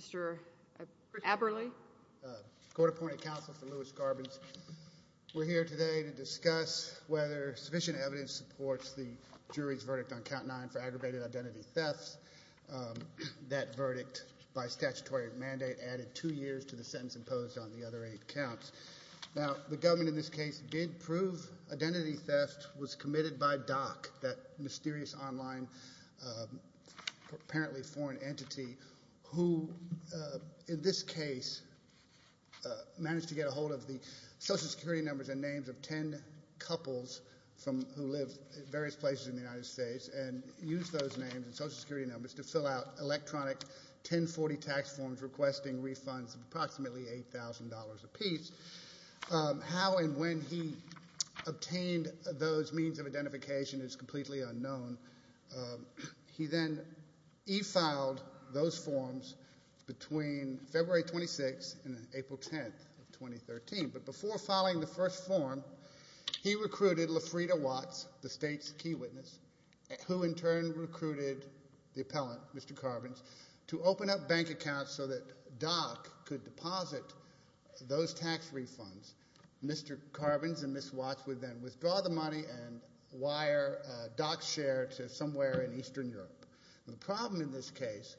Mr. Aberle. Court-appointed counsel for Louis Carbins. We're here today to discuss whether sufficient evidence supports the jury's verdict on Count 9 for aggravated identity thefts. That verdict, by statutory mandate, added two years to the sentence imposed on the other eight counts. Now, the government in this case did prove identity theft was committed by Doc, that mysterious online apparently foreign entity who, in this case, managed to get a hold of the Social Security numbers and names of ten couples who live in various places in the United States and used those names and Social Security numbers to fill out electronic 1040 tax forms requesting refunds of approximately $8,000 apiece. How and when he obtained those means of identification is completely unknown. He then e-filed those forms between February 26th and April 10th of 2013. But before filing the first form, he recruited Lafrida Watts, the state's key witness, who in turn recruited the appellant, Mr. Carbins, to open up bank accounts so that Doc could deposit those tax refunds. Mr. Carbins and Ms. Watts would then withdraw the money and wire Doc's share to somewhere in Eastern Europe. The problem in this case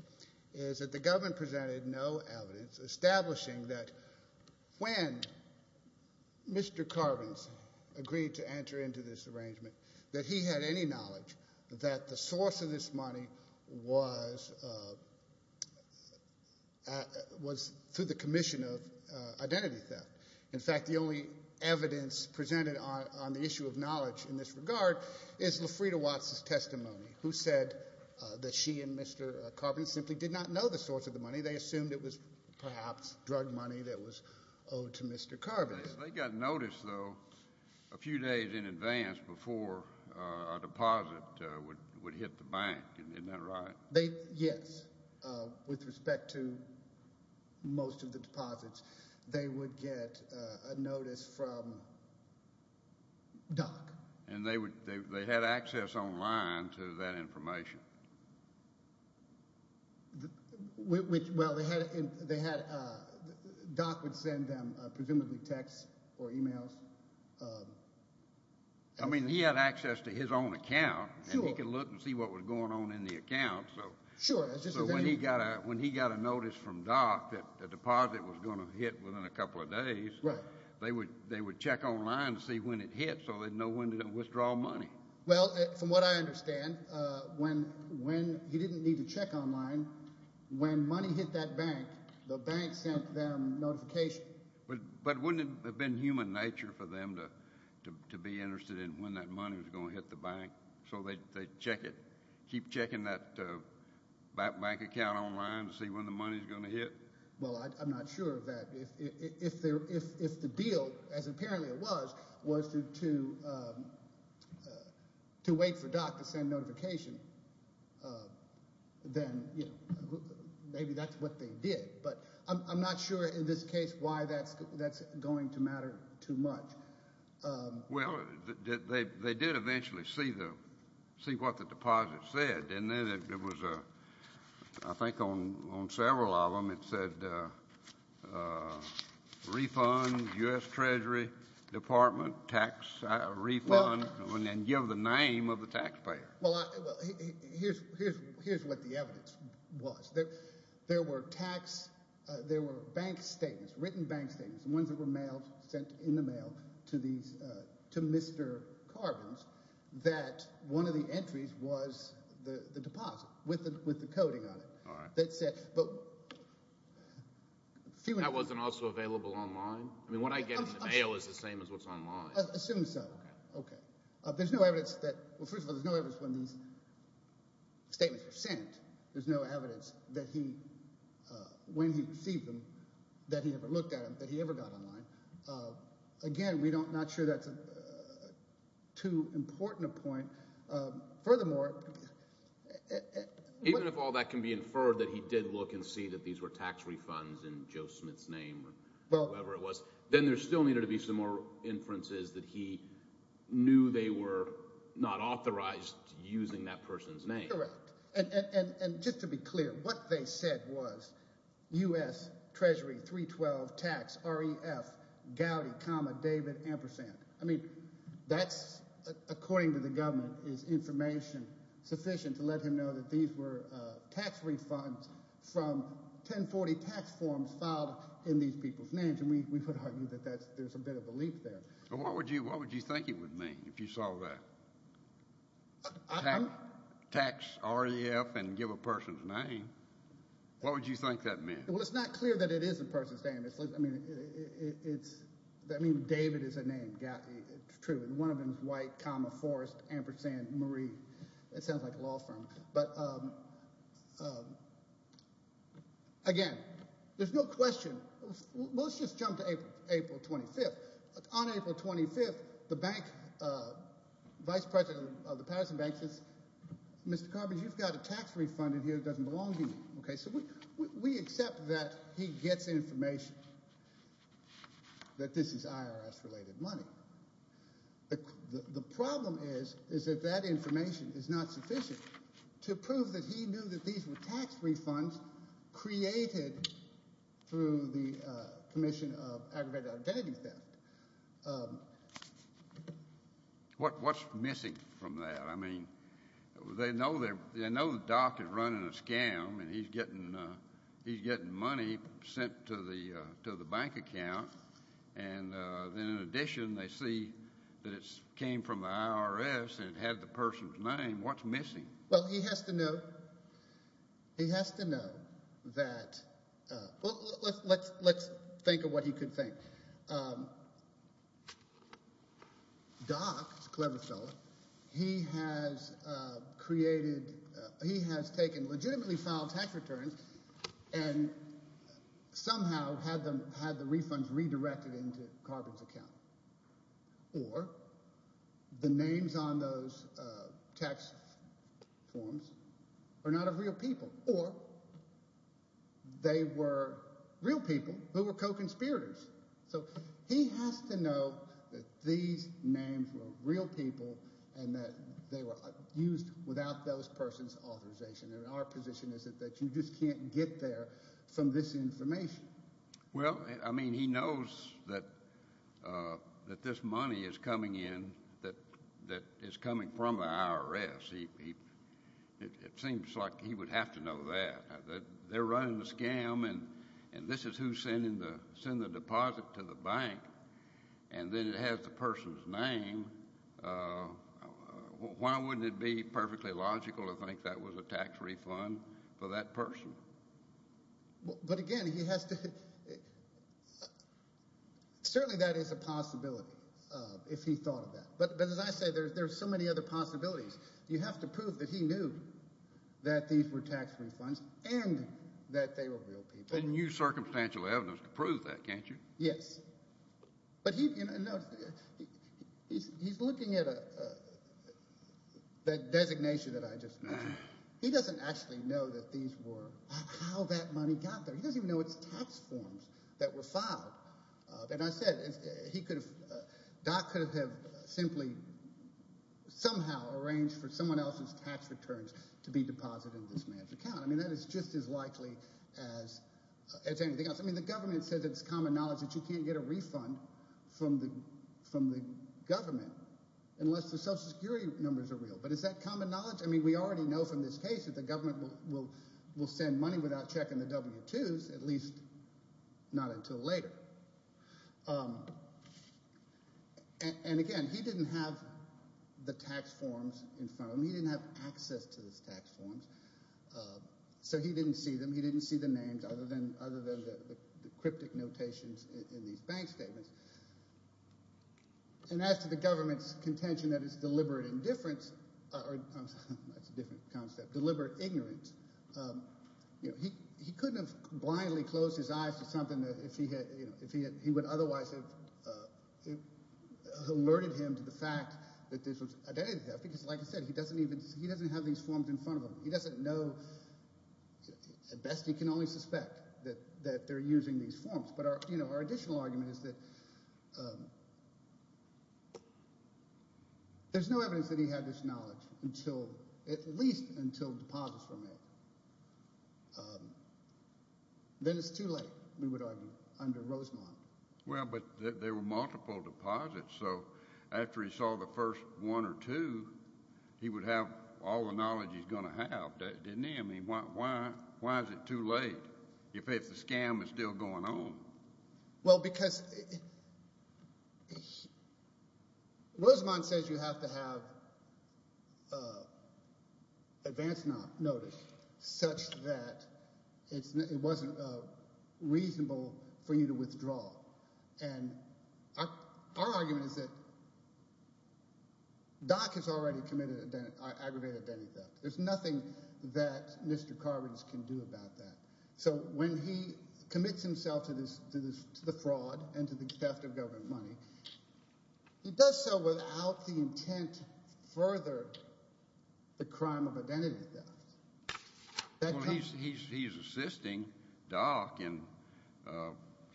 is that the government presented no evidence establishing that when Mr. Carbins agreed to enter into this arrangement that he had any knowledge that the source of this money was through the commission of identity theft. In fact, the only evidence presented on the issue of knowledge in this regard is Lafrida Watts's testimony, who said that she and Mr. Carbins simply did not know the source of the money. They assumed it was perhaps drug money that was owed to Mr. Carbins. They got notice, though, a few days in advance before a deposit would hit the bank. Isn't that right? Yes. With respect to most of the deposits, they would get a notice from Doc. And they had access online to that information? Well, Doc would send them presumably texts or e-mails. I mean, he had access to his own account, and he could look and see what was going on in the account. Sure. So when he got a notice from Doc that the deposit was going to hit within a couple of days, they would check online to see when it hit so they'd know when to withdraw money. Well, from what I understand, when he didn't need to check online, when money hit that bank, the bank sent them notification. But wouldn't it have been human nature for them to be interested in when that money was going to hit the bank so they'd check it, keep checking that bank account online to see when the money was going to hit? Well, I'm not sure of that. If the deal, as apparently it was, was to wait for Doc to send notification, then maybe that's what they did. But I'm not sure in this case why that's going to matter too much. Well, they did eventually see what the deposit said, didn't they? I think on several of them it said refund U.S. Treasury Department tax refund and give the name of the taxpayer. Well, here's what the evidence was. There were bank statements, written bank statements, the ones that were sent in the mail to Mr. Carbons, that one of the entries was the deposit with the coding on it. That wasn't also available online? I mean, what I get in the mail is the same as what's online. Assume so. Okay. There's no evidence that – well, first of all, there's no evidence when these statements were sent, there's no evidence that when he received them that he ever looked at them, that he ever got online. Again, we're not sure that's too important a point. Furthermore – Even if all that can be inferred that he did look and see that these were tax refunds in Joe Smith's name or whoever it was, then there still needed to be some more inferences that he knew they were not authorized using that person's name. Correct. And just to be clear, what they said was U.S. Treasury 312 tax REF Gowdy, David Ampersand. I mean, that's, according to the government, is information sufficient to let him know that these were tax refunds from 1040 tax forms filed in these people's names, and we would argue that there's a bit of belief there. What would you think it would mean if you saw that, tax REF and give a person's name? What would you think that meant? Well, it's not clear that it is a person's name. I mean, David is a name, Gowdy. It's true. One of them is white, comma, Forrest Ampersand Marie. It sounds like a law firm. But, again, there's no question. Well, let's just jump to April 25th. On April 25th, the bank vice president of the Patterson Bank says, Mr. Carpenter, you've got a tax refund in here that doesn't belong to you. Okay, so we accept that he gets information that this is IRS-related money. The problem is, is that that information is not sufficient to prove that he knew that these were tax refunds created through the commission of aggravated identity theft. What's missing from that? I mean, they know the doc is running a scam, and he's getting money sent to the bank account. And then, in addition, they see that it came from the IRS and it had the person's name. What's missing? Well, he has to know. He has to know that – well, let's think of what he could think. Doc is a clever fellow. He has created – he has taken legitimately filed tax returns and somehow had the refunds redirected into Carpenter's account. Or the names on those tax forms are not of real people. Or they were real people who were co-conspirators. So he has to know that these names were real people and that they were used without those persons' authorization. And our position is that you just can't get there from this information. Well, I mean, he knows that this money is coming in that is coming from the IRS. It seems like he would have to know that. They're running the scam, and this is who's sending the deposit to the bank, and then it has the person's name. Why wouldn't it be perfectly logical to think that was a tax refund for that person? But, again, he has to – certainly that is a possibility if he thought of that. But as I say, there are so many other possibilities. You have to prove that he knew that these were tax refunds and that they were real people. And you circumstantial evidence can prove that, can't you? Yes. But he – no, he's looking at a designation that I just mentioned. He doesn't actually know that these were – how that money got there. He doesn't even know it's tax forms that were filed. And I said he could have – Doc could have simply somehow arranged for someone else's tax returns to be deposited in this man's account. I mean that is just as likely as anything else. I mean the government says it's common knowledge that you can't get a refund from the government unless the Social Security numbers are real. But is that common knowledge? I mean we already know from this case that the government will send money without checking the W-2s, at least not until later. And, again, he didn't have the tax forms in front of him. He didn't have access to those tax forms. So he didn't see them. He didn't see the names other than the cryptic notations in these bank statements. And as to the government's contention that it's deliberate indifference – that's a different concept – deliberate ignorance, he couldn't have blindly closed his eyes to something if he had – he would otherwise have alerted him to the fact that this was – because, like I said, he doesn't even – he doesn't have these forms in front of him. He doesn't know – at best he can only suspect that they're using these forms. But our additional argument is that there's no evidence that he had this knowledge until – at least until deposits were made. Then it's too late, we would argue, under Rosemont. Well, but there were multiple deposits. So after he saw the first one or two, he would have all the knowledge he's going to have, didn't he? I mean why is it too late if the scam is still going on? Well, because Rosemont says you have to have advance notice such that it wasn't reasonable for you to withdraw. And our argument is that Doc has already committed aggravated identity theft. There's nothing that Mr. Carbons can do about that. So when he commits himself to the fraud and to the theft of government money, he does so without the intent to further the crime of identity theft. Well, he's assisting Doc in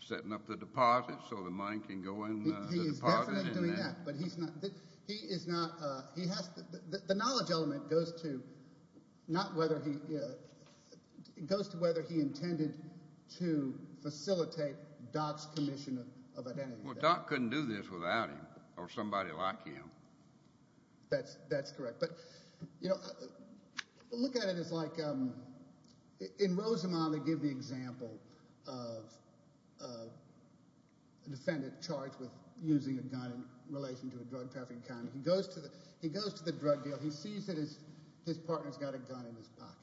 setting up the deposit so the money can go in the deposit. He is definitely doing that, but he's not – he is not – he has – the knowledge element goes to not whether he – it goes to whether he intended to facilitate Doc's commission of identity theft. Well, Doc couldn't do this without him or somebody like him. That's correct. But look at it as like – in Rosemont they give the example of a defendant charged with using a gun in relation to a drug trafficking crime. He goes to the drug deal. He sees that his partner has got a gun in his pocket,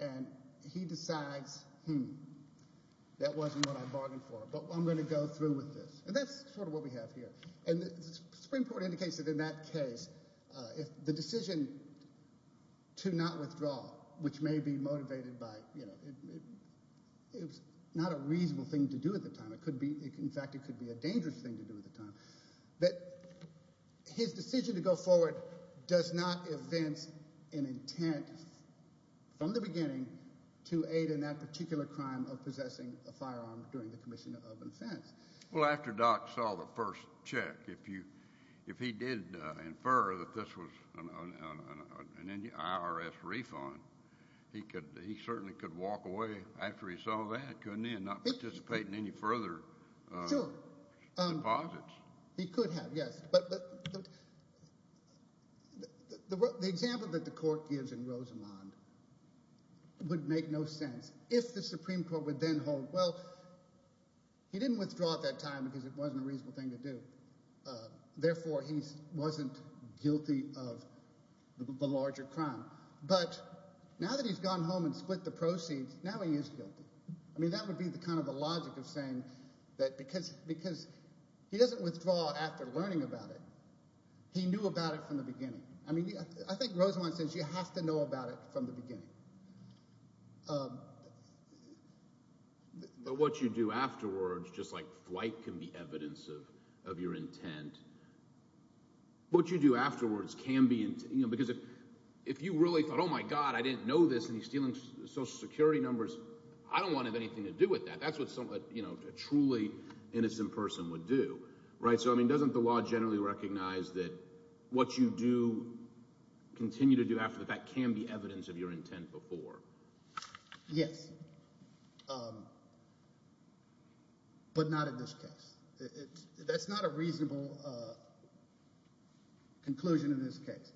and he decides, hmm, that wasn't what I bargained for, but I'm going to go through with this. And that's sort of what we have here. And the Supreme Court indicates that in that case, the decision to not withdraw, which may be motivated by – it's not a reasonable thing to do at the time. It could be – in fact, it could be a dangerous thing to do at the time. But his decision to go forward does not evince an intent from the beginning to aid in that particular crime of possessing a firearm during the commission of offense. Well, after Doc saw the first check, if he did infer that this was an IRS refund, he certainly could walk away after he saw that, couldn't he, and not participate in any further deposits. Sure. He could have, yes. But the example that the court gives in Rosamond would make no sense. If the Supreme Court would then hold – well, he didn't withdraw at that time because it wasn't a reasonable thing to do. Therefore, he wasn't guilty of the larger crime. But now that he's gone home and split the proceeds, now he is guilty. I mean that would be kind of the logic of saying that because he doesn't withdraw after learning about it. He knew about it from the beginning. I mean I think Rosamond says you have to know about it from the beginning. But what you do afterwards, just like flight can be evidence of your intent, what you do afterwards can be – because if you really thought, oh my god, I didn't know this, and he's stealing Social Security numbers, I don't want to have anything to do with that. That's what a truly innocent person would do. So I mean doesn't the law generally recognize that what you do – continue to do after the fact can be evidence of your intent before? Yes, but not in this case. That's not a reasonable conclusion in this case.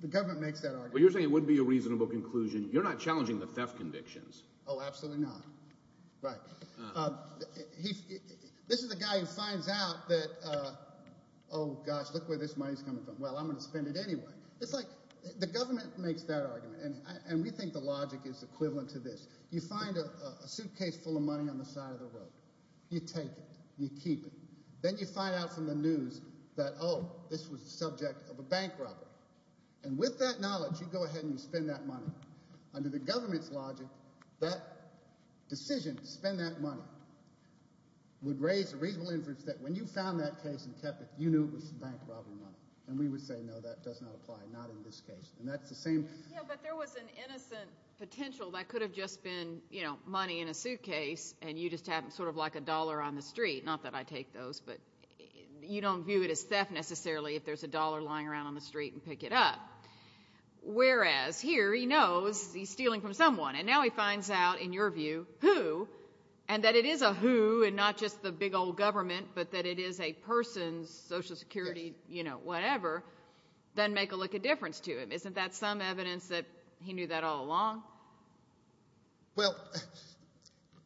The government makes that argument. Well, you're saying it wouldn't be a reasonable conclusion. You're not challenging the theft convictions. Oh, absolutely not. Right. This is the guy who finds out that, oh gosh, look where this money is coming from. Well, I'm going to spend it anyway. It's like the government makes that argument, and we think the logic is equivalent to this. You find a suitcase full of money on the side of the road. You take it. You keep it. Then you find out from the news that, oh, this was the subject of a bank robbery. And with that knowledge, you go ahead and you spend that money. Under the government's logic, that decision to spend that money would raise a reasonable inference that when you found that case and kept it, you knew it was bank robbery money. And we would say, no, that does not apply, not in this case. And that's the same. Yeah, but there was an innocent potential that could have just been money in a suitcase, and you just have sort of like a dollar on the street. Not that I take those, but you don't view it as theft necessarily if there's a dollar lying around on the street and pick it up. Whereas here he knows he's stealing from someone, and now he finds out, in your view, who, and that it is a who and not just the big old government but that it is a person, Social Security, whatever, doesn't make a lick of difference to him. Isn't that some evidence that he knew that all along? Well,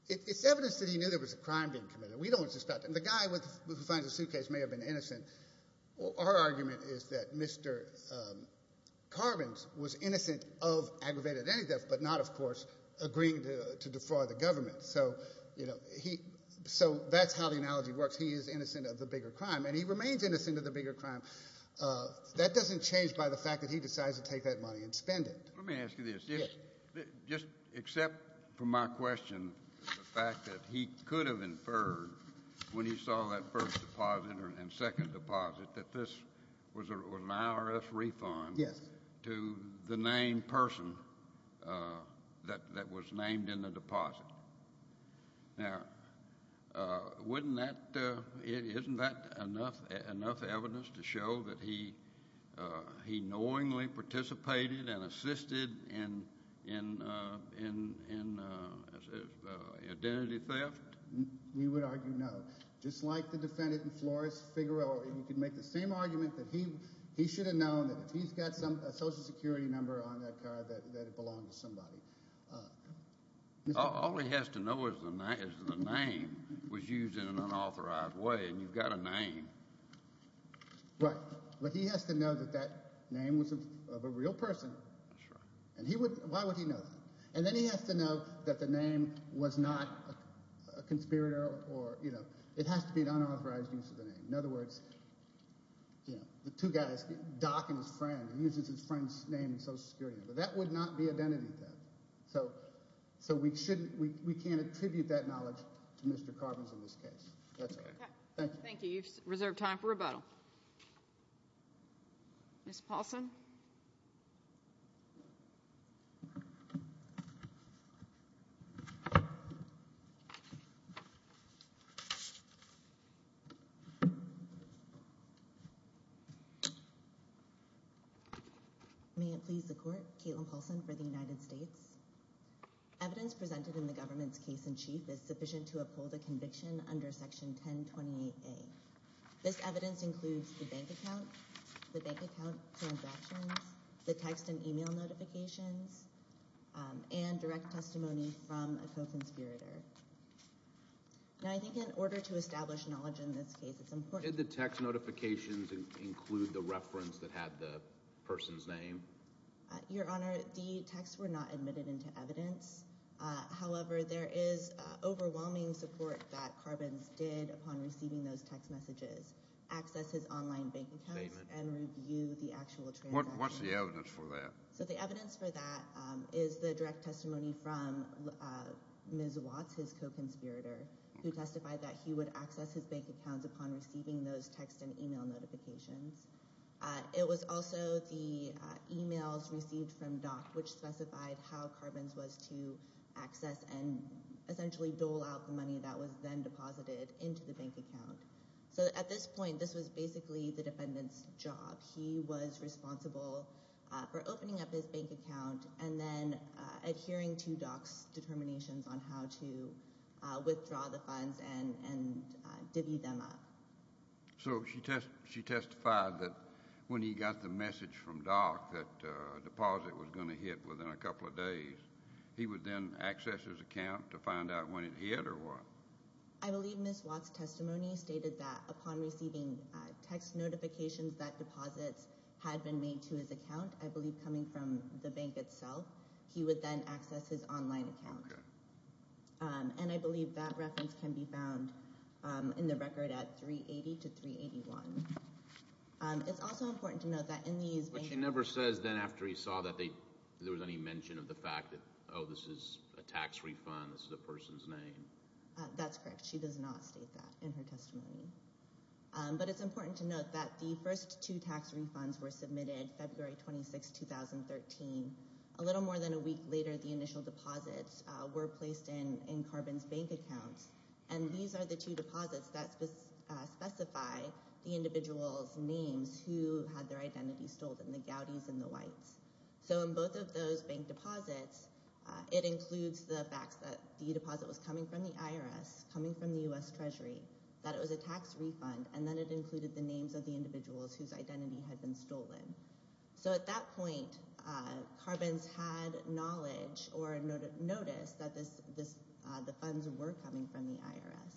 it's evidence that he knew there was a crime being committed. We don't suspect it. And the guy who finds the suitcase may have been innocent. Our argument is that Mr. Carbons was innocent of aggravated identity theft but not, of course, agreeing to defraud the government. So that's how the analogy works. He is innocent of the bigger crime, and he remains innocent of the bigger crime. That doesn't change by the fact that he decides to take that money and spend it. Let me ask you this. Yes. Just accept from my question the fact that he could have inferred when he saw that first deposit and second deposit that this was an IRS refund to the named person that was named in the deposit. Now, isn't that enough evidence to show that he knowingly participated and assisted in identity theft? We would argue no. Just like the defendant in Flores-Figueroa, you could make the same argument that he should have known that if he's got a Social Security number on that card that it belonged to somebody. All he has to know is the name was used in an unauthorized way, and you've got a name. Right. But he has to know that that name was of a real person. That's right. Why would he know that? And then he has to know that the name was not a conspirator. It has to be an unauthorized use of the name. In other words, the two guys, Doc and his friend, he uses his friend's name in Social Security. But that would not be identity theft. So we can't attribute that knowledge to Mr. Carbons in this case. That's all right. Thank you. Thank you. You've reserved time for rebuttal. Ms. Paulson? Ms. Paulson? May it please the Court. Caitlin Paulson for the United States. Evidence presented in the government's case in chief is sufficient to uphold a conviction under Section 1028A. This evidence includes the bank account. The bank account transactions. The text and e-mail notifications. And direct testimony from a co-conspirator. Now, I think in order to establish knowledge in this case, it's important to- Did the text notifications include the reference that had the person's name? Your Honor, the texts were not admitted into evidence. However, there is overwhelming support that Carbons did upon receiving those text messages. Access his online bank accounts and review the actual transactions. What's the evidence for that? So the evidence for that is the direct testimony from Ms. Watts, his co-conspirator, who testified that he would access his bank accounts upon receiving those text and e-mail notifications. It was also the e-mails received from Dock which specified how Carbons was to access and essentially dole out the money that was then deposited into the bank account. So at this point, this was basically the defendant's job. He was responsible for opening up his bank account and then adhering to Dock's determinations on how to withdraw the funds and divvy them up. So she testified that when he got the message from Dock that a deposit was going to hit within a couple of days, he would then access his account to find out when it hit or what? I believe Ms. Watts' testimony stated that upon receiving text notifications that deposits had been made to his account, I believe coming from the bank itself, he would then access his online account. And I believe that reference can be found in the record at 380 to 381. It's also important to note that in these banks— But she never says then after he saw that there was any mention of the fact that, oh, this is a tax refund, this is a person's name. That's correct. She does not state that in her testimony. But it's important to note that the first two tax refunds were submitted February 26, 2013. A little more than a week later, the initial deposits were placed in Carbons' bank accounts, and these are the two deposits that specify the individual's names who had their identity stolen, the Gowdys and the Whites. So in both of those bank deposits, it includes the fact that the deposit was coming from the IRS, coming from the U.S. Treasury, that it was a tax refund, and then it included the names of the individuals whose identity had been stolen. So at that point, Carbons had knowledge or noticed that the funds were coming from the IRS.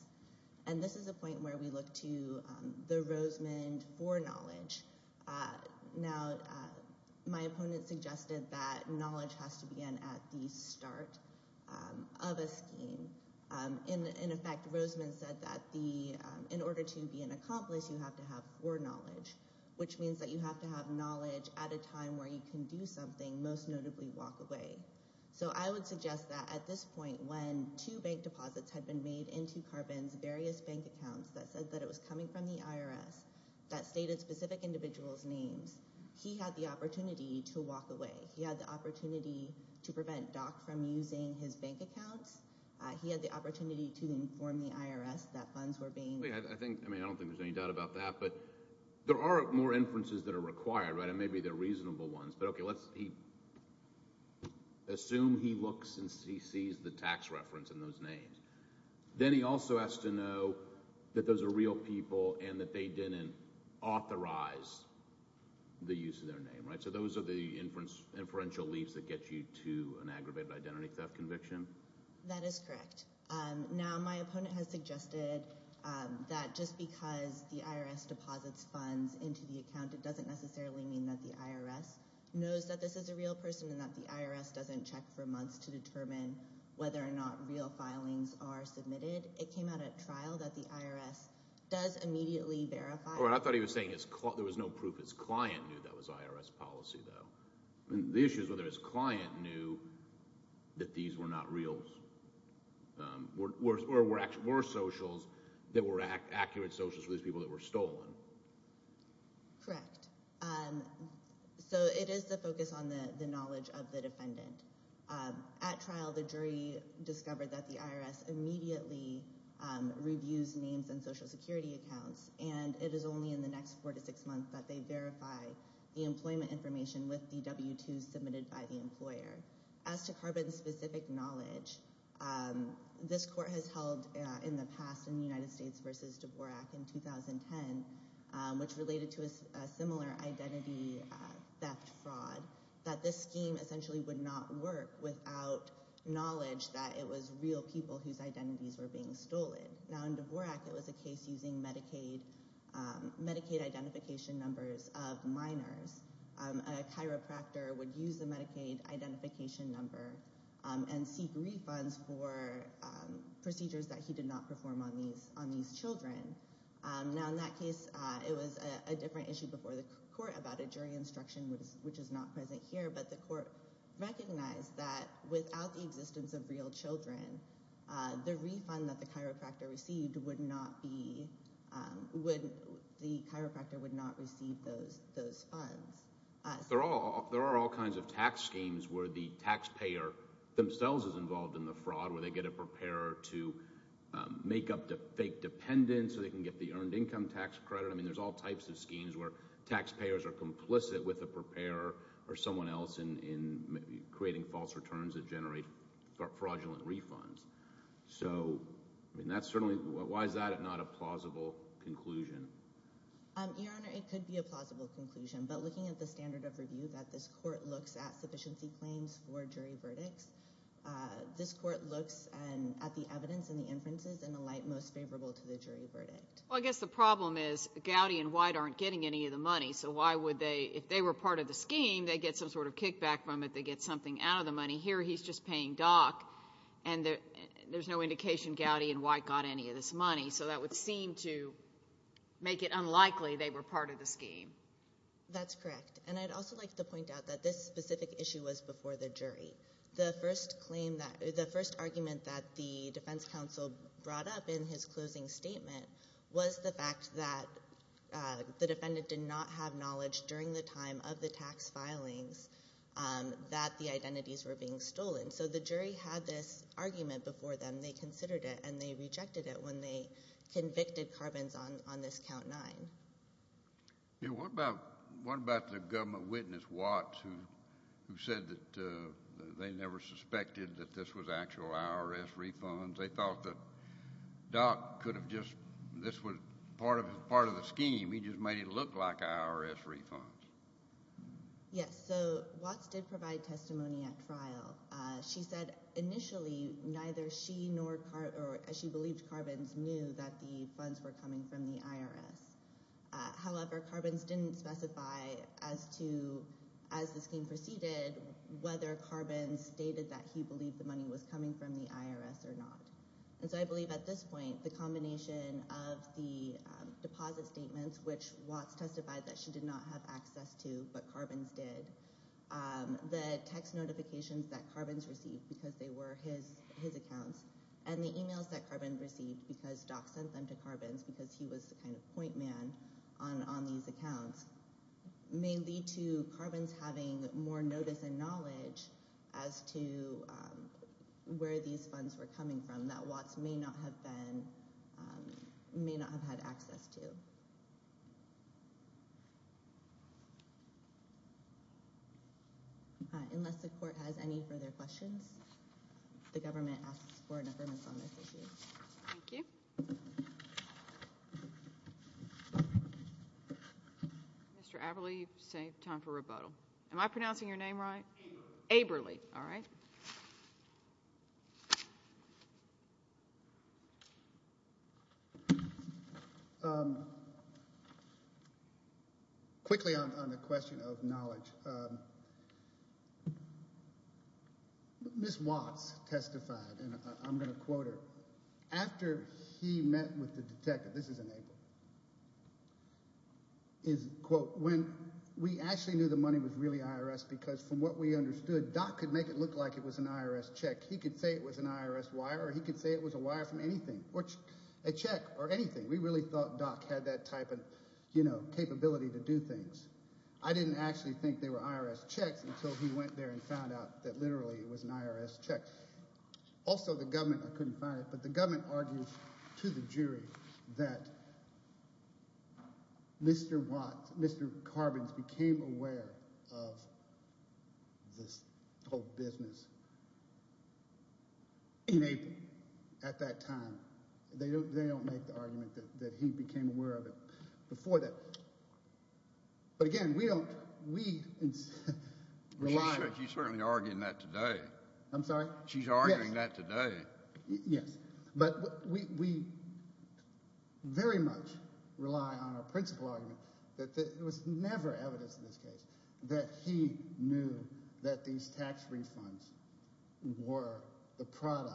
And this is a point where we look to the Rosemond for knowledge. Now, my opponent suggested that knowledge has to begin at the start of a scheme. In effect, Rosemond said that in order to be an accomplice, you have to have foreknowledge, which means that you have to have knowledge at a time where you can do something, most notably walk away. So I would suggest that at this point, when two bank deposits had been made into Carbons' various bank accounts that said that it was coming from the IRS that stated specific individuals' names, he had the opportunity to walk away. He had the opportunity to prevent Dock from using his bank accounts. He had the opportunity to inform the IRS that funds were being— I mean, I don't think there's any doubt about that. But there are more inferences that are required, right? And maybe they're reasonable ones. But, okay, let's assume he looks and he sees the tax reference and those names. Then he also has to know that those are real people and that they didn't authorize the use of their name, right? So those are the inferential leaps that get you to an aggravated identity theft conviction. That is correct. Now, my opponent has suggested that just because the IRS deposits funds into the account, it doesn't necessarily mean that the IRS knows that this is a real person and that the IRS doesn't check for months to determine whether or not real filings are submitted. It came out at trial that the IRS does immediately verify— I thought he was saying there was no proof his client knew that was IRS policy, though. The issue is whether his client knew that these were not real— or were socials that were accurate socials for these people that were stolen. Correct. So it is the focus on the knowledge of the defendant. At trial, the jury discovered that the IRS immediately reviews names in Social Security accounts, and it is only in the next four to six months that they verify the employment information with the W-2s submitted by the employer. As to carbon-specific knowledge, this court has held, in the past, in the United States v. Dvorak in 2010, which related to a similar identity theft fraud, that this scheme essentially would not work without knowledge that it was real people whose identities were being stolen. Now, in Dvorak, it was a case using Medicaid identification numbers of minors. A chiropractor would use the Medicaid identification number and seek refunds for procedures that he did not perform on these children. Now, in that case, it was a different issue before the court about a jury instruction, which is not present here, but the court recognized that without the existence of real children, the refund that the chiropractor received would not be—the chiropractor would not receive those funds. There are all kinds of tax schemes where the taxpayer themselves is involved in the fraud, where they get a preparer to make up the fake dependents so they can get the earned income tax credit. I mean, there's all types of schemes where taxpayers are complicit with a preparer or someone else in creating false returns that generate fraudulent refunds. So, I mean, that's certainly—why is that not a plausible conclusion? Your Honor, it could be a plausible conclusion. But looking at the standard of review that this court looks at sufficiency claims for jury verdicts, this court looks at the evidence and the inferences in a light most favorable to the jury verdict. Well, I guess the problem is Gowdy and White aren't getting any of the money, so why would they—if they were part of the scheme, they get some sort of kickback from it. They get something out of the money. Here he's just paying Dock, and there's no indication Gowdy and White got any of this money. So that would seem to make it unlikely they were part of the scheme. That's correct. And I'd also like to point out that this specific issue was before the jury. The first claim that—the first argument that the defense counsel brought up in his closing statement was the fact that the defendant did not have knowledge during the time of the tax filings that the identities were being stolen. So the jury had this argument before them. They considered it, and they rejected it when they convicted Carbons on this Count 9. What about the government witness, Watts, who said that they never suspected that this was actual IRS refunds? They thought that Dock could have just—this was part of the scheme. He just made it look like IRS refunds. Yes. So Watts did provide testimony at trial. She said initially neither she nor—she believed Carbons knew that the funds were coming from the IRS. However, Carbons didn't specify as to, as the scheme proceeded, whether Carbons stated that he believed the money was coming from the IRS or not. And so I believe at this point the combination of the deposit statements, which Watts testified that she did not have access to but Carbons did, the text notifications that Carbons received because they were his accounts, and the emails that Carbons received because Dock sent them to Carbons because he was the kind of point man on these accounts, may lead to Carbons having more notice and knowledge as to where these funds were coming from that Watts may not have been—may not have had access to. Unless the Court has any further questions, the government asks for an affirmation on this issue. Thank you. Mr. Aberle, you've saved time for rebuttal. Am I pronouncing your name right? Aberle. Aberle. All right. Thank you. Quickly on the question of knowledge, Ms. Watts testified, and I'm going to quote her, after he met with the detective—this is in April— is, quote, when we actually knew the money was really IRS because from what we understood, Dock could make it look like it was an IRS check. He could say it was an IRS wire or he could say it was a wire from anything, a check or anything. We really thought Dock had that type of capability to do things. I didn't actually think they were IRS checks until he went there and found out that literally it was an IRS check. Also, the government—I couldn't find it— this whole business in April at that time. They don't make the argument that he became aware of it before that. But again, we don't—we rely on— She's certainly arguing that today. I'm sorry? She's arguing that today. Yes, but we very much rely on our principal argument that there was never evidence in this case that he knew that these tax refunds were the product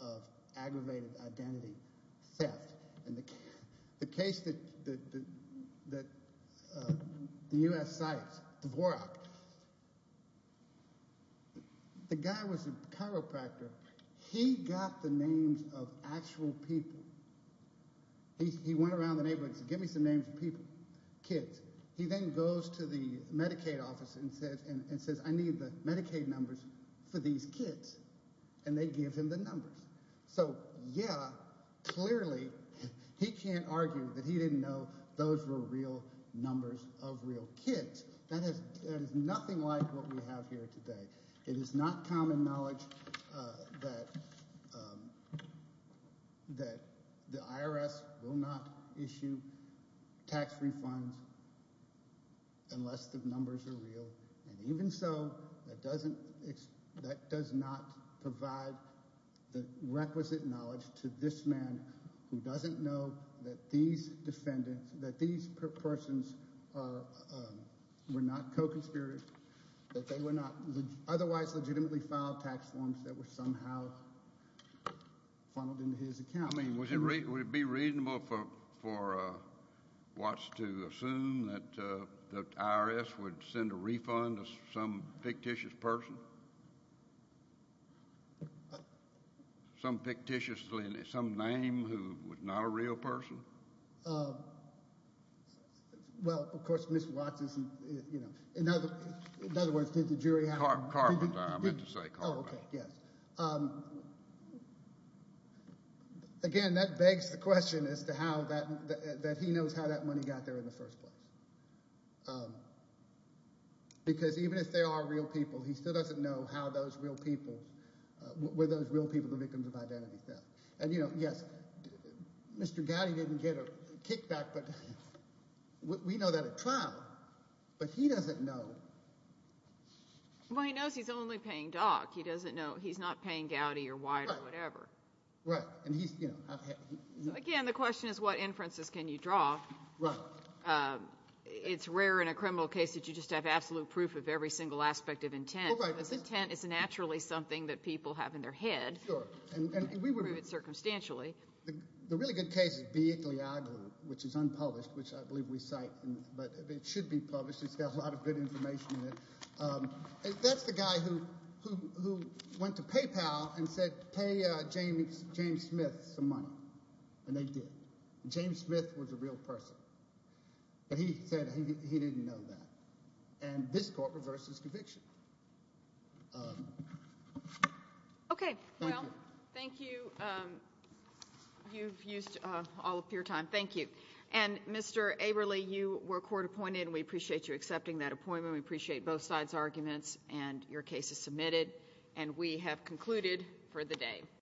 of aggravated identity theft. In the case that the U.S. cites, the Vorak, the guy was a chiropractor. He got the names of actual people. He went around the neighborhood and said, give me some names of people, kids. He then goes to the Medicaid office and says, I need the Medicaid numbers for these kids. And they give him the numbers. So yeah, clearly he can't argue that he didn't know those were real numbers of real kids. That is nothing like what we have here today. It is not common knowledge that the IRS will not issue tax refunds unless the numbers are real. And even so, that doesn't—that does not provide the requisite knowledge to this man who doesn't know that these defendants, that these persons were not co-conspirators, that they were not otherwise legitimately filed tax forms that were somehow funneled into his account. I mean, would it be reasonable for Watts to assume that the IRS would send a refund to some fictitious person, some fictitious—some name who was not a real person? Well, of course, Mr. Watts isn't—in other words, did the jury have— Carbondale. I meant to say Carbondale. Oh, okay, yes. Again, that begs the question as to how that—that he knows how that money got there in the first place. Because even if they are real people, he still doesn't know how those real people— were those real people the victims of identity theft. And, you know, yes, Mr. Gowdy didn't get a kickback, but we know that at trial. But he doesn't know. Well, he knows he's only paying Dock. He doesn't know—he's not paying Gowdy or Wyatt or whatever. Right, and he's— Again, the question is what inferences can you draw. Right. It's rare in a criminal case that you just have absolute proof of every single aspect of intent. Well, right. Because intent is naturally something that people have in their head. Sure. And we would— Circumstantially. The really good case is B. Igliagou, which is unpublished, which I believe we cite. But it should be published. It's got a lot of good information in it. That's the guy who went to PayPal and said, pay James Smith some money. And they did. James Smith was a real person. But he said he didn't know that. And this court reversed his conviction. Okay. Well, thank you. You've used all of your time. Thank you. And, Mr. Averly, you were court appointed, and we appreciate you accepting that appointment. We appreciate both sides' arguments and your cases submitted. And we have concluded for the day.